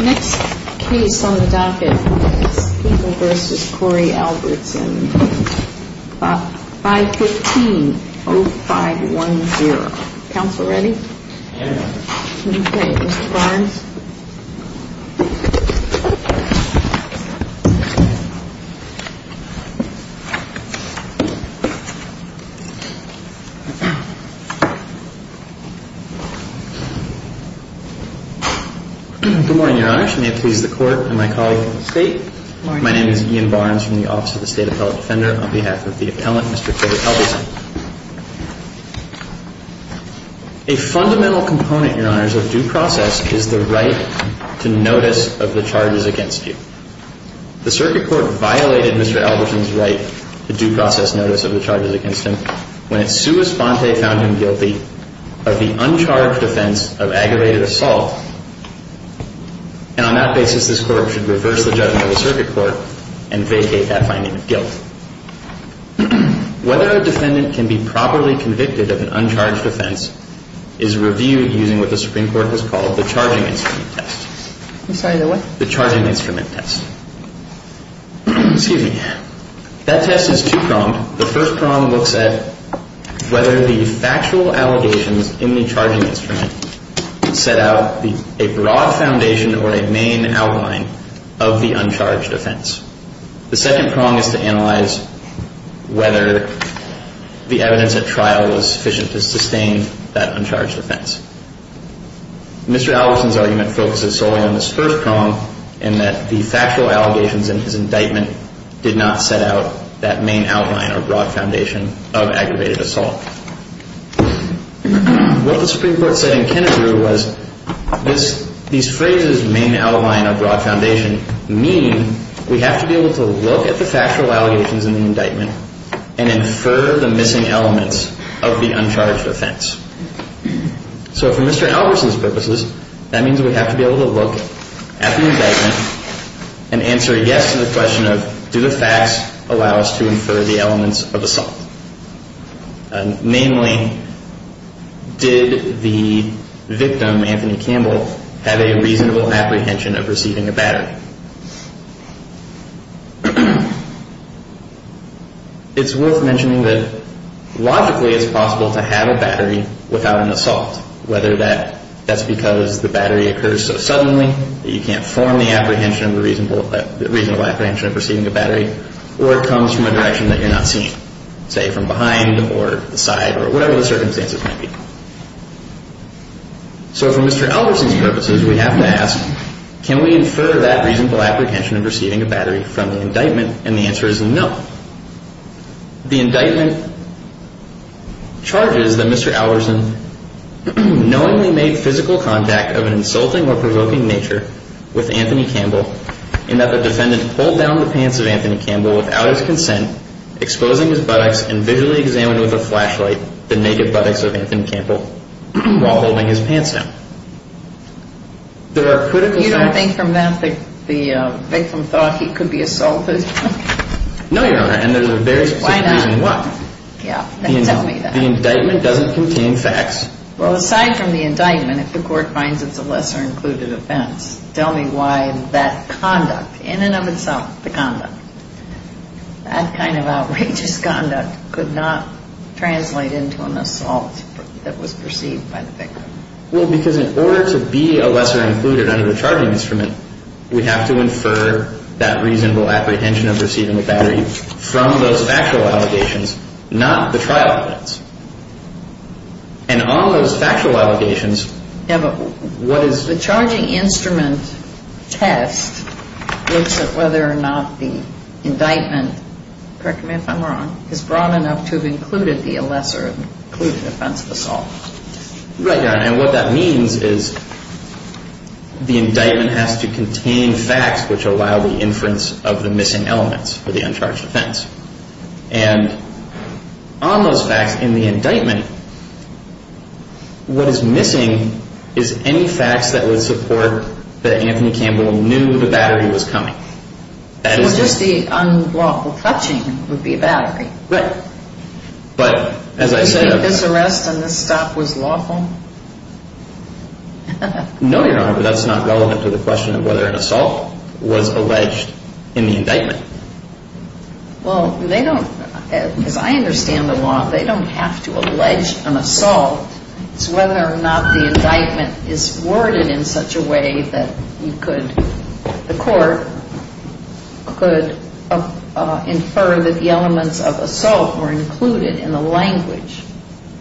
Next case on the docket is People v. Corey Albertson, 515-0510. Counselor, ready? Good morning, Your Honor. May it please the Court and my colleagues in the State. My name is Ian Barnes from the Office of the State Appellate Defender. On behalf of the appellant, Mr. Corey Albertson. A fundamental component, Your Honors, of due process is the right to notice of the charges against you. The circuit court violated Mr. Albertson's right to due process notice of the charges against him when it's sua sponte found him guilty of the uncharged offense of aggravated assault, and on that basis this court should reverse the judgment of the circuit court and vacate that finding of guilt. Mr. Albertson, you have the floor. Mr. Albertson's argument focuses solely on this first prong in that the factual allegations in his indictment did not set out that main outline or broad foundation of aggravated assault. What the Supreme Court said in Kennebrew was these phrases, main outline or broad foundation, mean we have to be able to look at the factual allegations in the indictment and infer the missing elements of the uncharged offense. So for Mr. Albertson's purposes, that means we have to be able to look at the indictment and answer a yes to the question of do the facts allow us to infer the elements of assault? Namely, did the victim, Anthony Campbell, have a reasonable apprehension of receiving a battery? It's worth mentioning that logically it's possible to have a battery without an assault, whether that's because the battery occurs so suddenly that you can't form the apprehension, the reasonable apprehension of receiving a battery, or it comes from a direction that you're not seeing, say from behind or the side or whatever the circumstances might be. So for Mr. Albertson's purposes, we have to ask, can we infer that reasonable apprehension of receiving a battery from the indictment, and the answer is no. The indictment charges that Mr. Albertson knowingly made physical contact of an insulting or provoking nature with Anthony Campbell in that the defendant pulled down the pants of Anthony Campbell without his consent, exposing his buttocks and visually examined with a flashlight the naked buttocks of Anthony Campbell while holding his pants down. You don't think from that the victim thought he could be assaulted? No, Your Honor, and there's a very specific reason why. Yeah, tell me that. The indictment doesn't contain facts. Well, aside from the indictment, if the court finds it's a lesser-included offense, tell me why that conduct, in and of itself, the conduct, that kind of outrageous conduct could not translate into an assault that was perceived by the victim. Well, because in order to be a lesser-included under the charging instrument, we have to infer that reasonable apprehension of receiving a battery from those factual allegations, not the trial evidence. And all those factual allegations have a – what is – The charging instrument test looks at whether or not the indictment – correct me if I'm wrong – is broad enough to have included the lesser-included offense of assault. Right, Your Honor, and what that means is the indictment has to contain facts which allow the inference of the missing elements for the uncharged offense. And on those facts in the indictment, what is missing is any facts that would support that Anthony Campbell knew the battery was coming. Well, just the unlawful touching would be a battery. Right. But as I said – This arrest and this stop was lawful? No, Your Honor, but that's not relevant to the question of whether an assault was alleged in the indictment. Well, they don't – as I understand the law, they don't have to allege an assault. It's whether or not the indictment is worded in such a way that you could – the court could infer that the elements of assault were included in the language.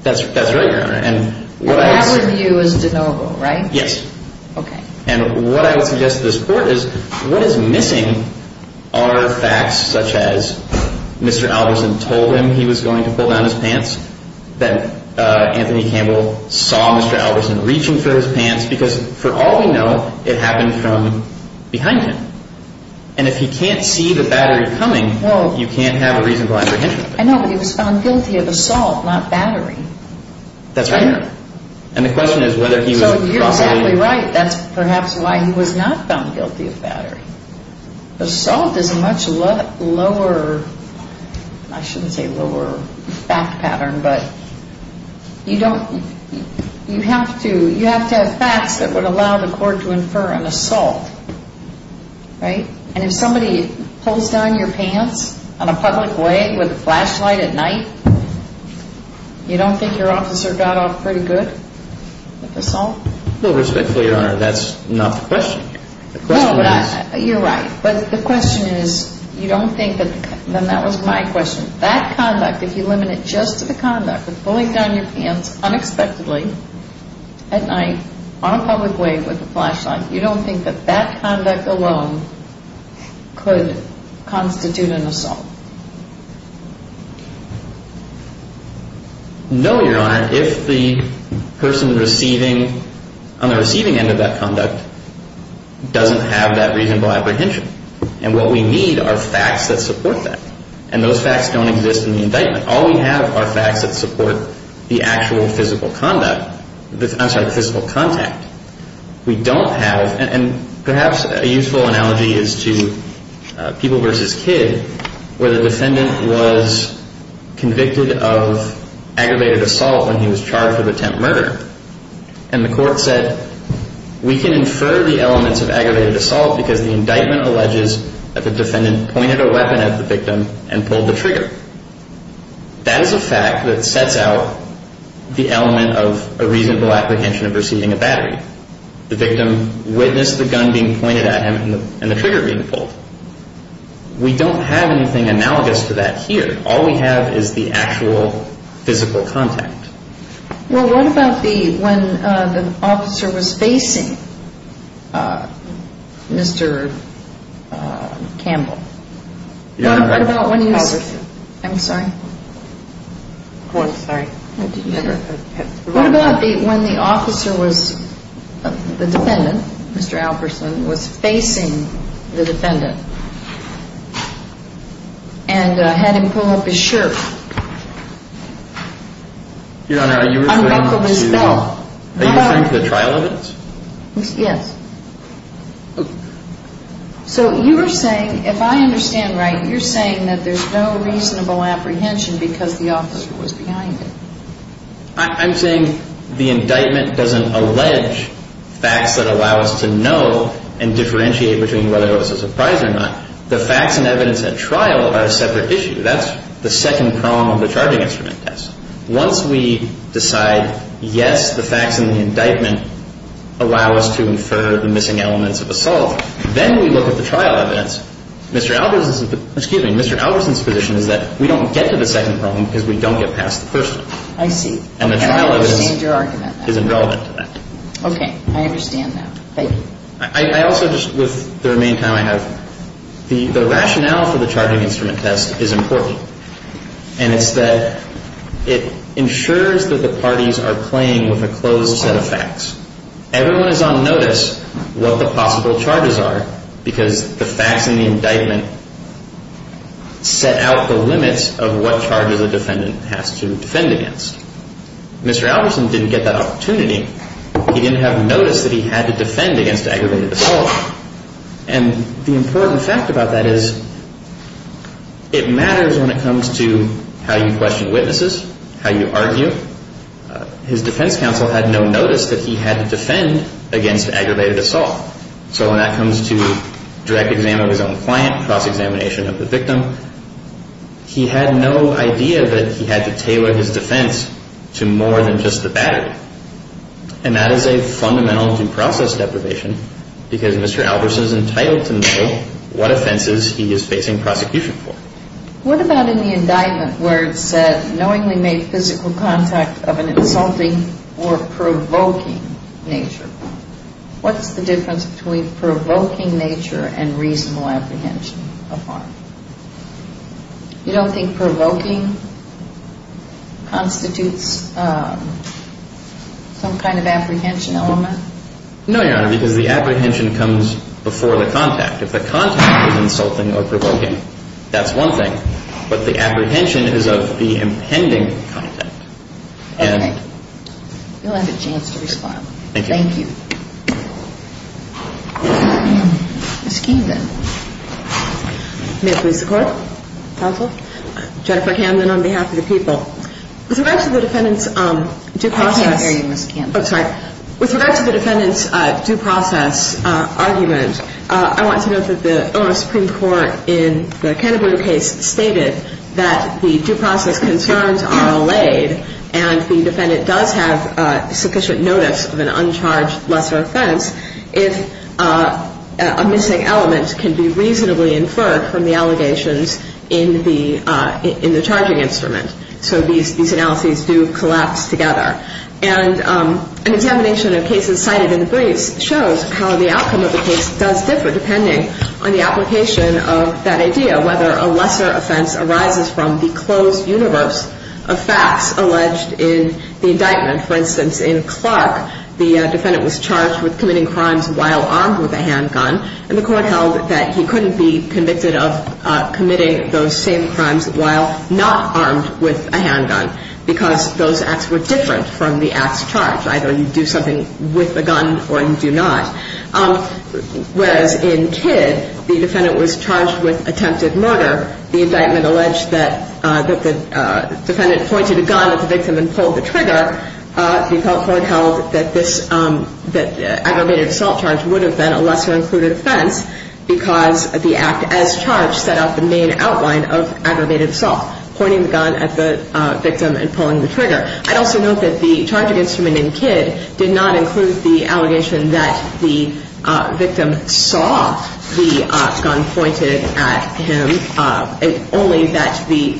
That's right, Your Honor, and what I – But our view is de novo, right? Yes. Okay. And what I would suggest to this court is what is missing are facts such as Mr. Albertson told him he was going to pull down his pants, that Anthony Campbell saw Mr. Albertson reaching for his pants, because for all we know, it happened from behind him. And if he can't see the battery coming, you can't have a reasonable apprehension. I know, but he was found guilty of assault, not battery. That's right, Your Honor, and the question is whether he was – He's probably right. That's perhaps why he was not found guilty of battery. Assault is a much lower – I shouldn't say lower fact pattern, but you don't – you have to – you have to have facts that would allow the court to infer an assault, right? And if somebody pulls down your pants on a public way with a flashlight at night, you don't think your officer got off pretty good with assault? No, respectfully, Your Honor, that's not the question. The question is – No, but I – you're right, but the question is you don't think that – and that was my question. That conduct, if you limit it just to the conduct of pulling down your pants unexpectedly at night on a public way with a flashlight, you don't think that that conduct alone could constitute an assault? No, Your Honor. If the person receiving – on the receiving end of that conduct doesn't have that reasonable apprehension, and what we need are facts that support that, and those facts don't exist in the indictment. All we have are facts that support the actual physical conduct – I'm sorry, physical contact. We don't have – and perhaps a useful analogy is to people versus kid, where the defendant was convicted of aggravated assault when he was charged with attempt murder, and the court said we can infer the elements of aggravated assault because the indictment alleges that the defendant pointed a weapon at the victim and pulled the trigger. That is a fact that sets out the element of a reasonable apprehension of receiving a battery. The victim witnessed the gun being pointed at him and the trigger being pulled. We don't have anything analogous to that here. All we have is the actual physical contact. Well, what about the – when the officer was facing Mr. Campbell? Your Honor, Alperson. I'm sorry? I'm sorry. What about when the officer was – the defendant, Mr. Alperson, was facing the defendant and had him pull up his shirt? Your Honor, are you referring to the trial evidence? Yes. So you were saying – if I understand right, you're saying that there's no reasonable apprehension because the officer was behind it. I'm saying the indictment doesn't allege facts that allow us to know and differentiate between whether it was a surprise or not. The facts and evidence at trial are a separate issue. That's the second prong of the charging instrument test. Once we decide, yes, the facts in the indictment allow us to infer the missing elements of assault, then we look at the trial evidence. Excuse me. Mr. Alperson's position is that we don't get to the second prong because we don't get past the first one. I see. And I understand your argument. And the trial evidence isn't relevant to that. Okay. I understand that. Thank you. I also just – with the remaining time I have, the rationale for the charging instrument test is important, and it's that it ensures that the parties are playing with a closed set of facts. Everyone is on notice what the possible charges are because the facts in the indictment set out the limits of what charges a defendant has to defend against. Mr. Alperson didn't get that opportunity. He didn't have notice that he had to defend against aggravated assault. And the important fact about that is it matters when it comes to how you question witnesses, how you argue. His defense counsel had no notice that he had to defend against aggravated assault. So when that comes to direct exam of his own client, cross-examination of the victim, he had no idea that he had to tailor his defense to more than just the battery. And that is a fundamental due process deprivation because Mr. Alperson is entitled to know what offenses he is facing prosecution for. What about in the indictment where it said knowingly made physical contact of an insulting or provoking nature? What's the difference between provoking nature and reasonable apprehension of harm? You don't think provoking constitutes some kind of apprehension element? No, Your Honor, because the apprehension comes before the contact. If the contact is insulting or provoking, that's one thing. But the apprehension is of the impending contact. Okay. You'll have a chance to respond. Thank you. Thank you. Ms. Keenan. May it please the Court. Counsel. Jennifer Camden on behalf of the people. With regard to the defendant's due process. I can't hear you, Ms. Camden. Oh, sorry. With regard to the defendant's due process argument, I want to note that the Supreme Court in the Canterbury case stated that the due process concerns are allayed and the defendant does have sufficient notice of an uncharged lesser offense if a missing element can be reasonably inferred from the allegations in the charging instrument. So these analyses do collapse together. And an examination of cases cited in the briefs shows how the outcome of the case does differ depending on the application of that idea, whether a lesser offense arises from the closed universe of facts alleged in the indictment. For instance, in Clark, the defendant was charged with committing crimes while armed with a handgun, and the Court held that he couldn't be convicted of committing those same crimes while not armed with a handgun because those acts were different from the act's charge. Either you do something with the gun or you do not. Whereas in Kidd, the defendant was charged with attempted murder. The indictment alleged that the defendant pointed a gun at the victim and pulled the trigger. The Court held that this aggravated assault charge would have been a lesser included offense because the act as charged set out the main outline of aggravated assault, pointing the gun at the victim and pulling the trigger. I'd also note that the charging instrument in Kidd did not include the allegation that the victim saw the gun pointed at him, only that the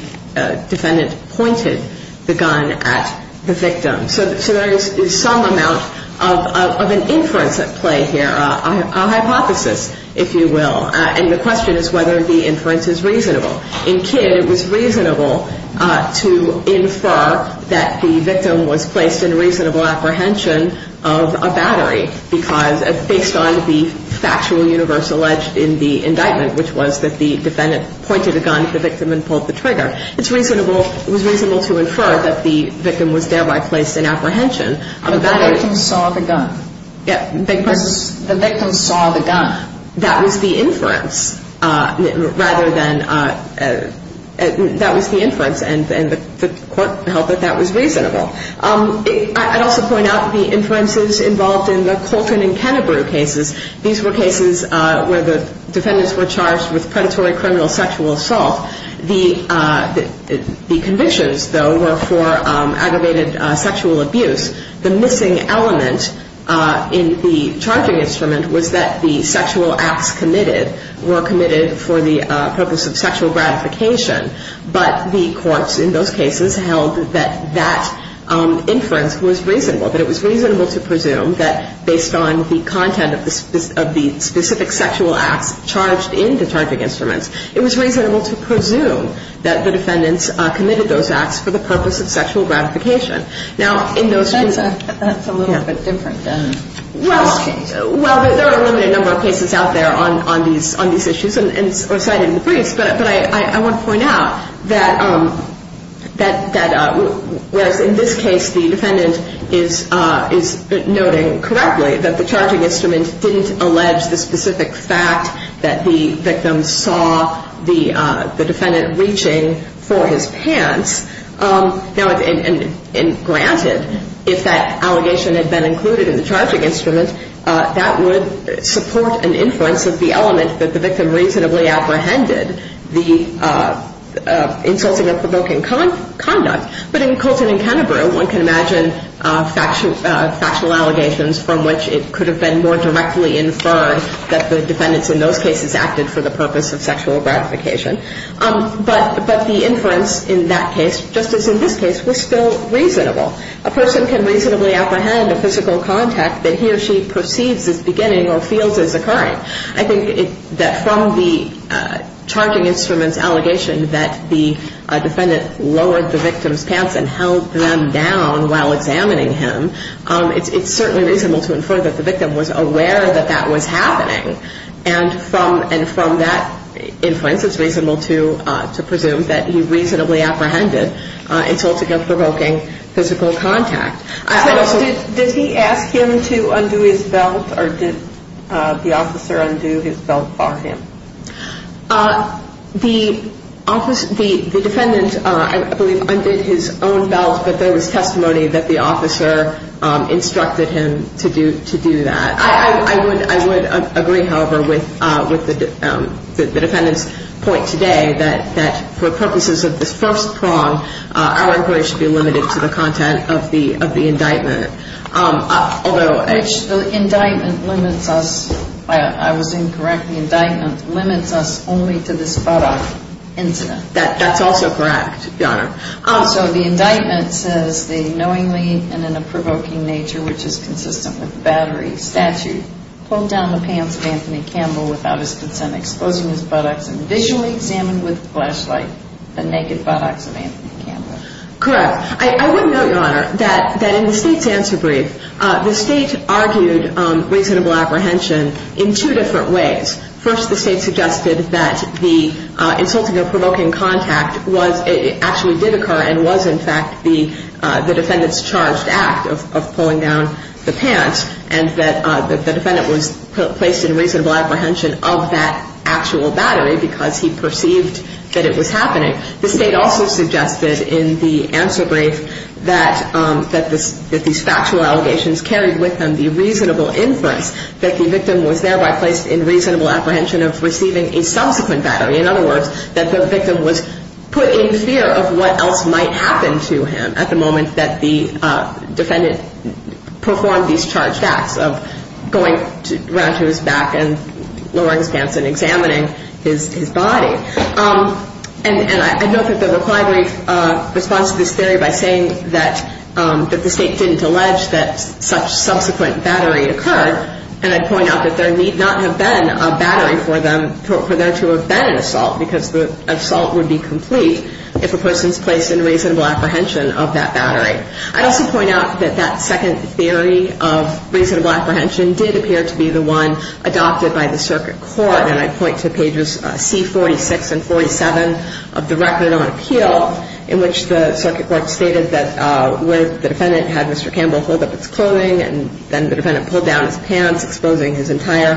defendant pointed the gun at the victim. So there is some amount of an inference at play here, a hypothesis, if you will. And the question is whether the inference is reasonable. In Kidd, it was reasonable to infer that the victim was placed in reasonable apprehension of a battery based on the factual universe alleged in the indictment, which was that the defendant pointed a gun at the victim and pulled the trigger. It was reasonable to infer that the victim was thereby placed in apprehension. But the victim saw the gun. The victim saw the gun. That was the inference rather than – that was the inference, and the Court held that that was reasonable. I'd also point out the inferences involved in the Coltrane and Kennebrew cases. These were cases where the defendants were charged with predatory criminal sexual assault. The convictions, though, were for aggravated sexual abuse. The missing element in the charging instrument was that the sexual acts committed were committed for the purpose of sexual gratification. But the courts in those cases held that that inference was reasonable, that it was reasonable to presume that based on the content of the specific sexual acts charged in the charging instruments, it was reasonable to presume that the defendants committed those acts for the purpose of sexual gratification. Now, in those cases – That's a little bit different than – Well, there are a limited number of cases out there on these issues, and cited in the briefs, but I want to point out that whereas in this case, the defendant is noting correctly that the charging instrument didn't allege the specific fact that the victim saw the defendant reaching for his pants. Now, granted, if that allegation had been included in the charging instrument, that would support an inference of the element that the victim reasonably apprehended, the insulting or provoking conduct. But in Coltrane and Kennebrew, one can imagine factual allegations from which it could have been more directly inferred that the defendants in those cases acted for the purpose of sexual gratification. But the inference in that case, just as in this case, was still reasonable. A person can reasonably apprehend a physical contact that he or she perceives as beginning or feels as occurring. I think that from the charging instrument's allegation that the defendant lowered the victim's pants and held them down while examining him, it's certainly reasonable to infer that the victim was aware that that was happening. And from that inference, it's reasonable to presume that he reasonably apprehended insulting or provoking physical contact. Did he ask him to undo his belt, or did the officer undo his belt for him? The defendant, I believe, undid his own belt, but there was testimony that the officer instructed him to do that. I would agree, however, with the defendant's point today that for purposes of this first prong, our inquiry should be limited to the content of the indictment. Which the indictment limits us, I was incorrect, the indictment limits us only to the spot-off incident. That's also correct, Your Honor. So the indictment says the knowingly and in a provoking nature, which is consistent with battery statute, pulled down the pants of Anthony Campbell without his consent, exposing his buttocks and visually examined with a flashlight the naked buttocks of Anthony Campbell. Correct. I would note, Your Honor, that in the State's answer brief, the State argued reasonable apprehension in two different ways. First, the State suggested that the insulting or provoking contact actually did occur and was, in fact, the defendant's charged act of pulling down the pants and that the defendant was placed in reasonable apprehension of that actual battery because he perceived that it was happening. The State also suggested in the answer brief that these factual allegations carried with them the reasonable inference that the victim was thereby placed in reasonable apprehension of receiving a subsequent battery. In other words, that the victim was put in fear of what else might happen to him at the moment that the defendant performed these charged acts of going around to his back and lowering his pants and examining his body. And I note that the reply brief responds to this theory by saying that the State didn't allege that such subsequent battery occurred, and I'd point out that there need not have been a battery for them, for there to have been an assault because the assault would be complete if a person's placed in reasonable apprehension of that battery. I'd also point out that that second theory of reasonable apprehension did appear to be the one adopted by the circuit court, and I'd point to pages C-46 and 47 of the Record on Appeal in which the circuit court stated that where the defendant had Mr. Campbell hold up his clothing and then the defendant pulled down his pants, exposing his entire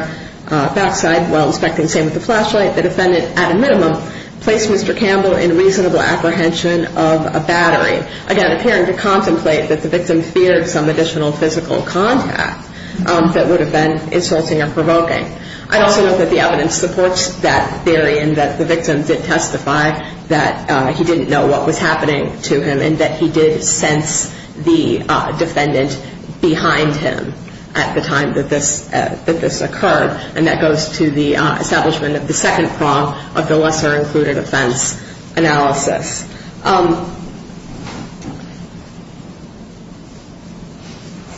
backside while inspecting the same with the flashlight, the defendant, at a minimum, placed Mr. Campbell in reasonable apprehension of a battery. Again, appearing to contemplate that the victim feared some additional physical contact that would have been insulting or provoking. I'd also note that the evidence supports that theory and that the victim did testify that he didn't know what was happening to him and that he did sense the defendant behind him at the time that this occurred, and that goes to the establishment of the second prong of the lesser-included offense analysis.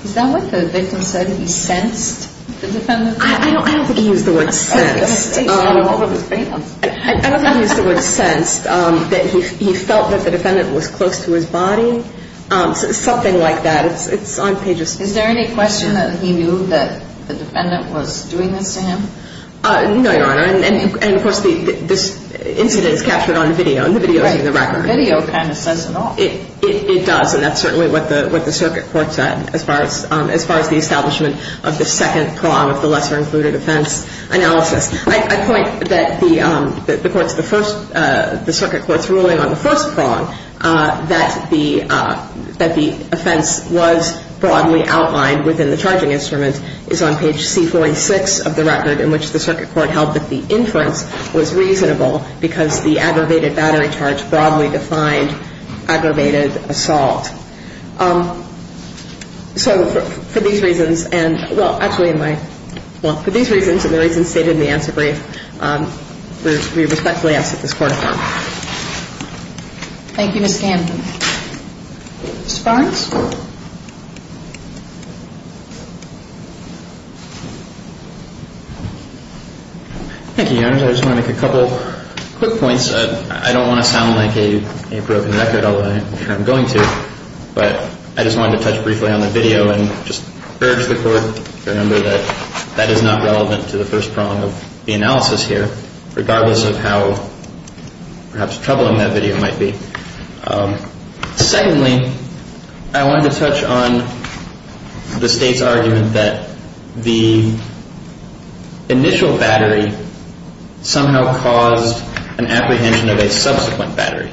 Is that what the victim said, that he sensed the defendant? I don't think he used the word sensed. I don't think he used the word sensed. He felt that the defendant was close to his body, something like that. It's on pages C. Is there any question that he knew that the defendant was doing this to him? No, Your Honor. And, of course, this incident is captured on video, and the video is in the record. Right. The video kind of says it all. It does, and that's certainly what the circuit court said as far as the establishment of the second prong of the lesser-included offense analysis. I point that the circuit court's ruling on the first prong, that the offense was broadly outlined within the charging instrument, is on page C46 of the record in which the circuit court held that the inference was reasonable because the aggravated battery charge broadly defined aggravated assault. So for these reasons, and, well, actually in my, well, for these reasons and the reasons stated in the answer brief, we respectfully ask that this Court affirm. Thank you, Ms. Scanlon. Mr. Barnes. Thank you, Your Honor. I just want to make a couple quick points. I don't want to sound like a broken record, although I'm going to. But I just wanted to touch briefly on the video and just urge the Court to remember that that is not relevant to the first prong of the analysis here, regardless of how perhaps troubling that video might be. Secondly, I wanted to touch on the State's argument that the initial battery somehow caused an apprehension of a subsequent battery,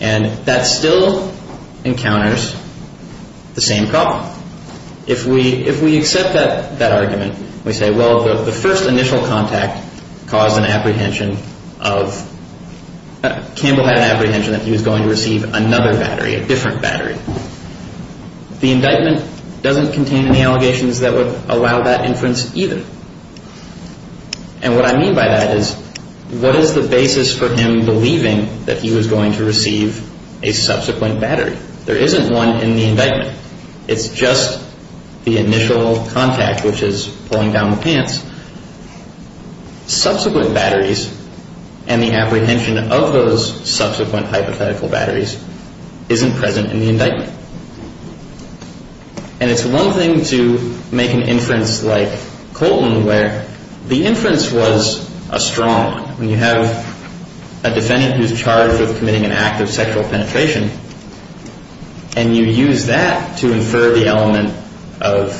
and that still encounters the same problem. If we accept that argument, we say, well, the first initial contact caused an apprehension of, Campbell had an apprehension that he was going to receive another battery, a different battery. The indictment doesn't contain any allegations that would allow that inference either. And what I mean by that is, what is the basis for him believing that he was going to receive a subsequent battery? There isn't one in the indictment. It's just the initial contact, which is pulling down the pants. Subsequent batteries and the apprehension of those subsequent hypothetical batteries isn't present in the indictment. And it's one thing to make an inference like Colton where the inference was a strong one. When you have a defendant who's charged with committing an act of sexual penetration and you use that to infer the element of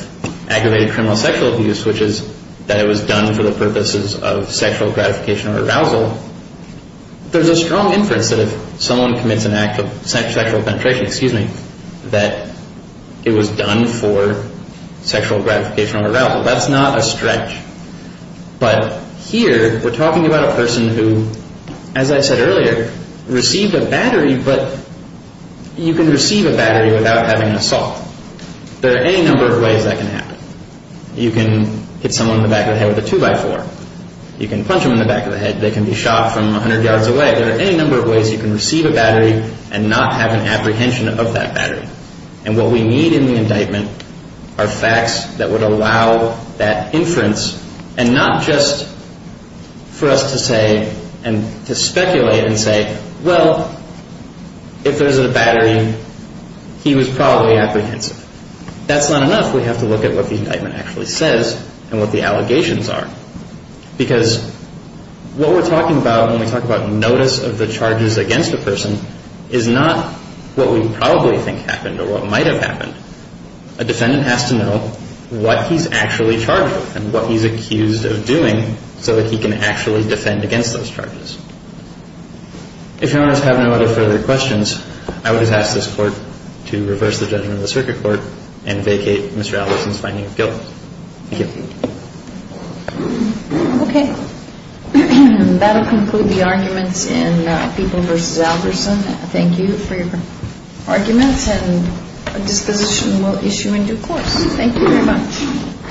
aggravated criminal sexual abuse, which is that it was done for the purposes of sexual gratification or arousal, there's a strong inference that if someone commits an act of sexual penetration, excuse me, that it was done for sexual gratification or arousal. That's not a stretch. But here we're talking about a person who, as I said earlier, received a battery, but you can receive a battery without having an assault. There are any number of ways that can happen. You can hit someone in the back of the head with a 2x4. You can punch them in the back of the head. They can be shot from 100 yards away. There are any number of ways you can receive a battery and not have an apprehension of that battery. And what we need in the indictment are facts that would allow that inference and not just for us to say and to speculate and say, well, if there's a battery, he was probably apprehensive. That's not enough. We have to look at what the indictment actually says and what the allegations are because what we're talking about when we talk about notice of the charges against a person is not what we probably think happened or what might have happened. A defendant has to know what he's actually charged with and what he's accused of doing so that he can actually defend against those charges. If you want to have no other further questions, I would just ask this Court to reverse the judgment of the circuit court and vacate Mr. Alderson's finding of guilt. Thank you. Okay. That will conclude the arguments in People v. Alderson. Thank you for your arguments and a disposition we'll issue in due course. Thank you very much.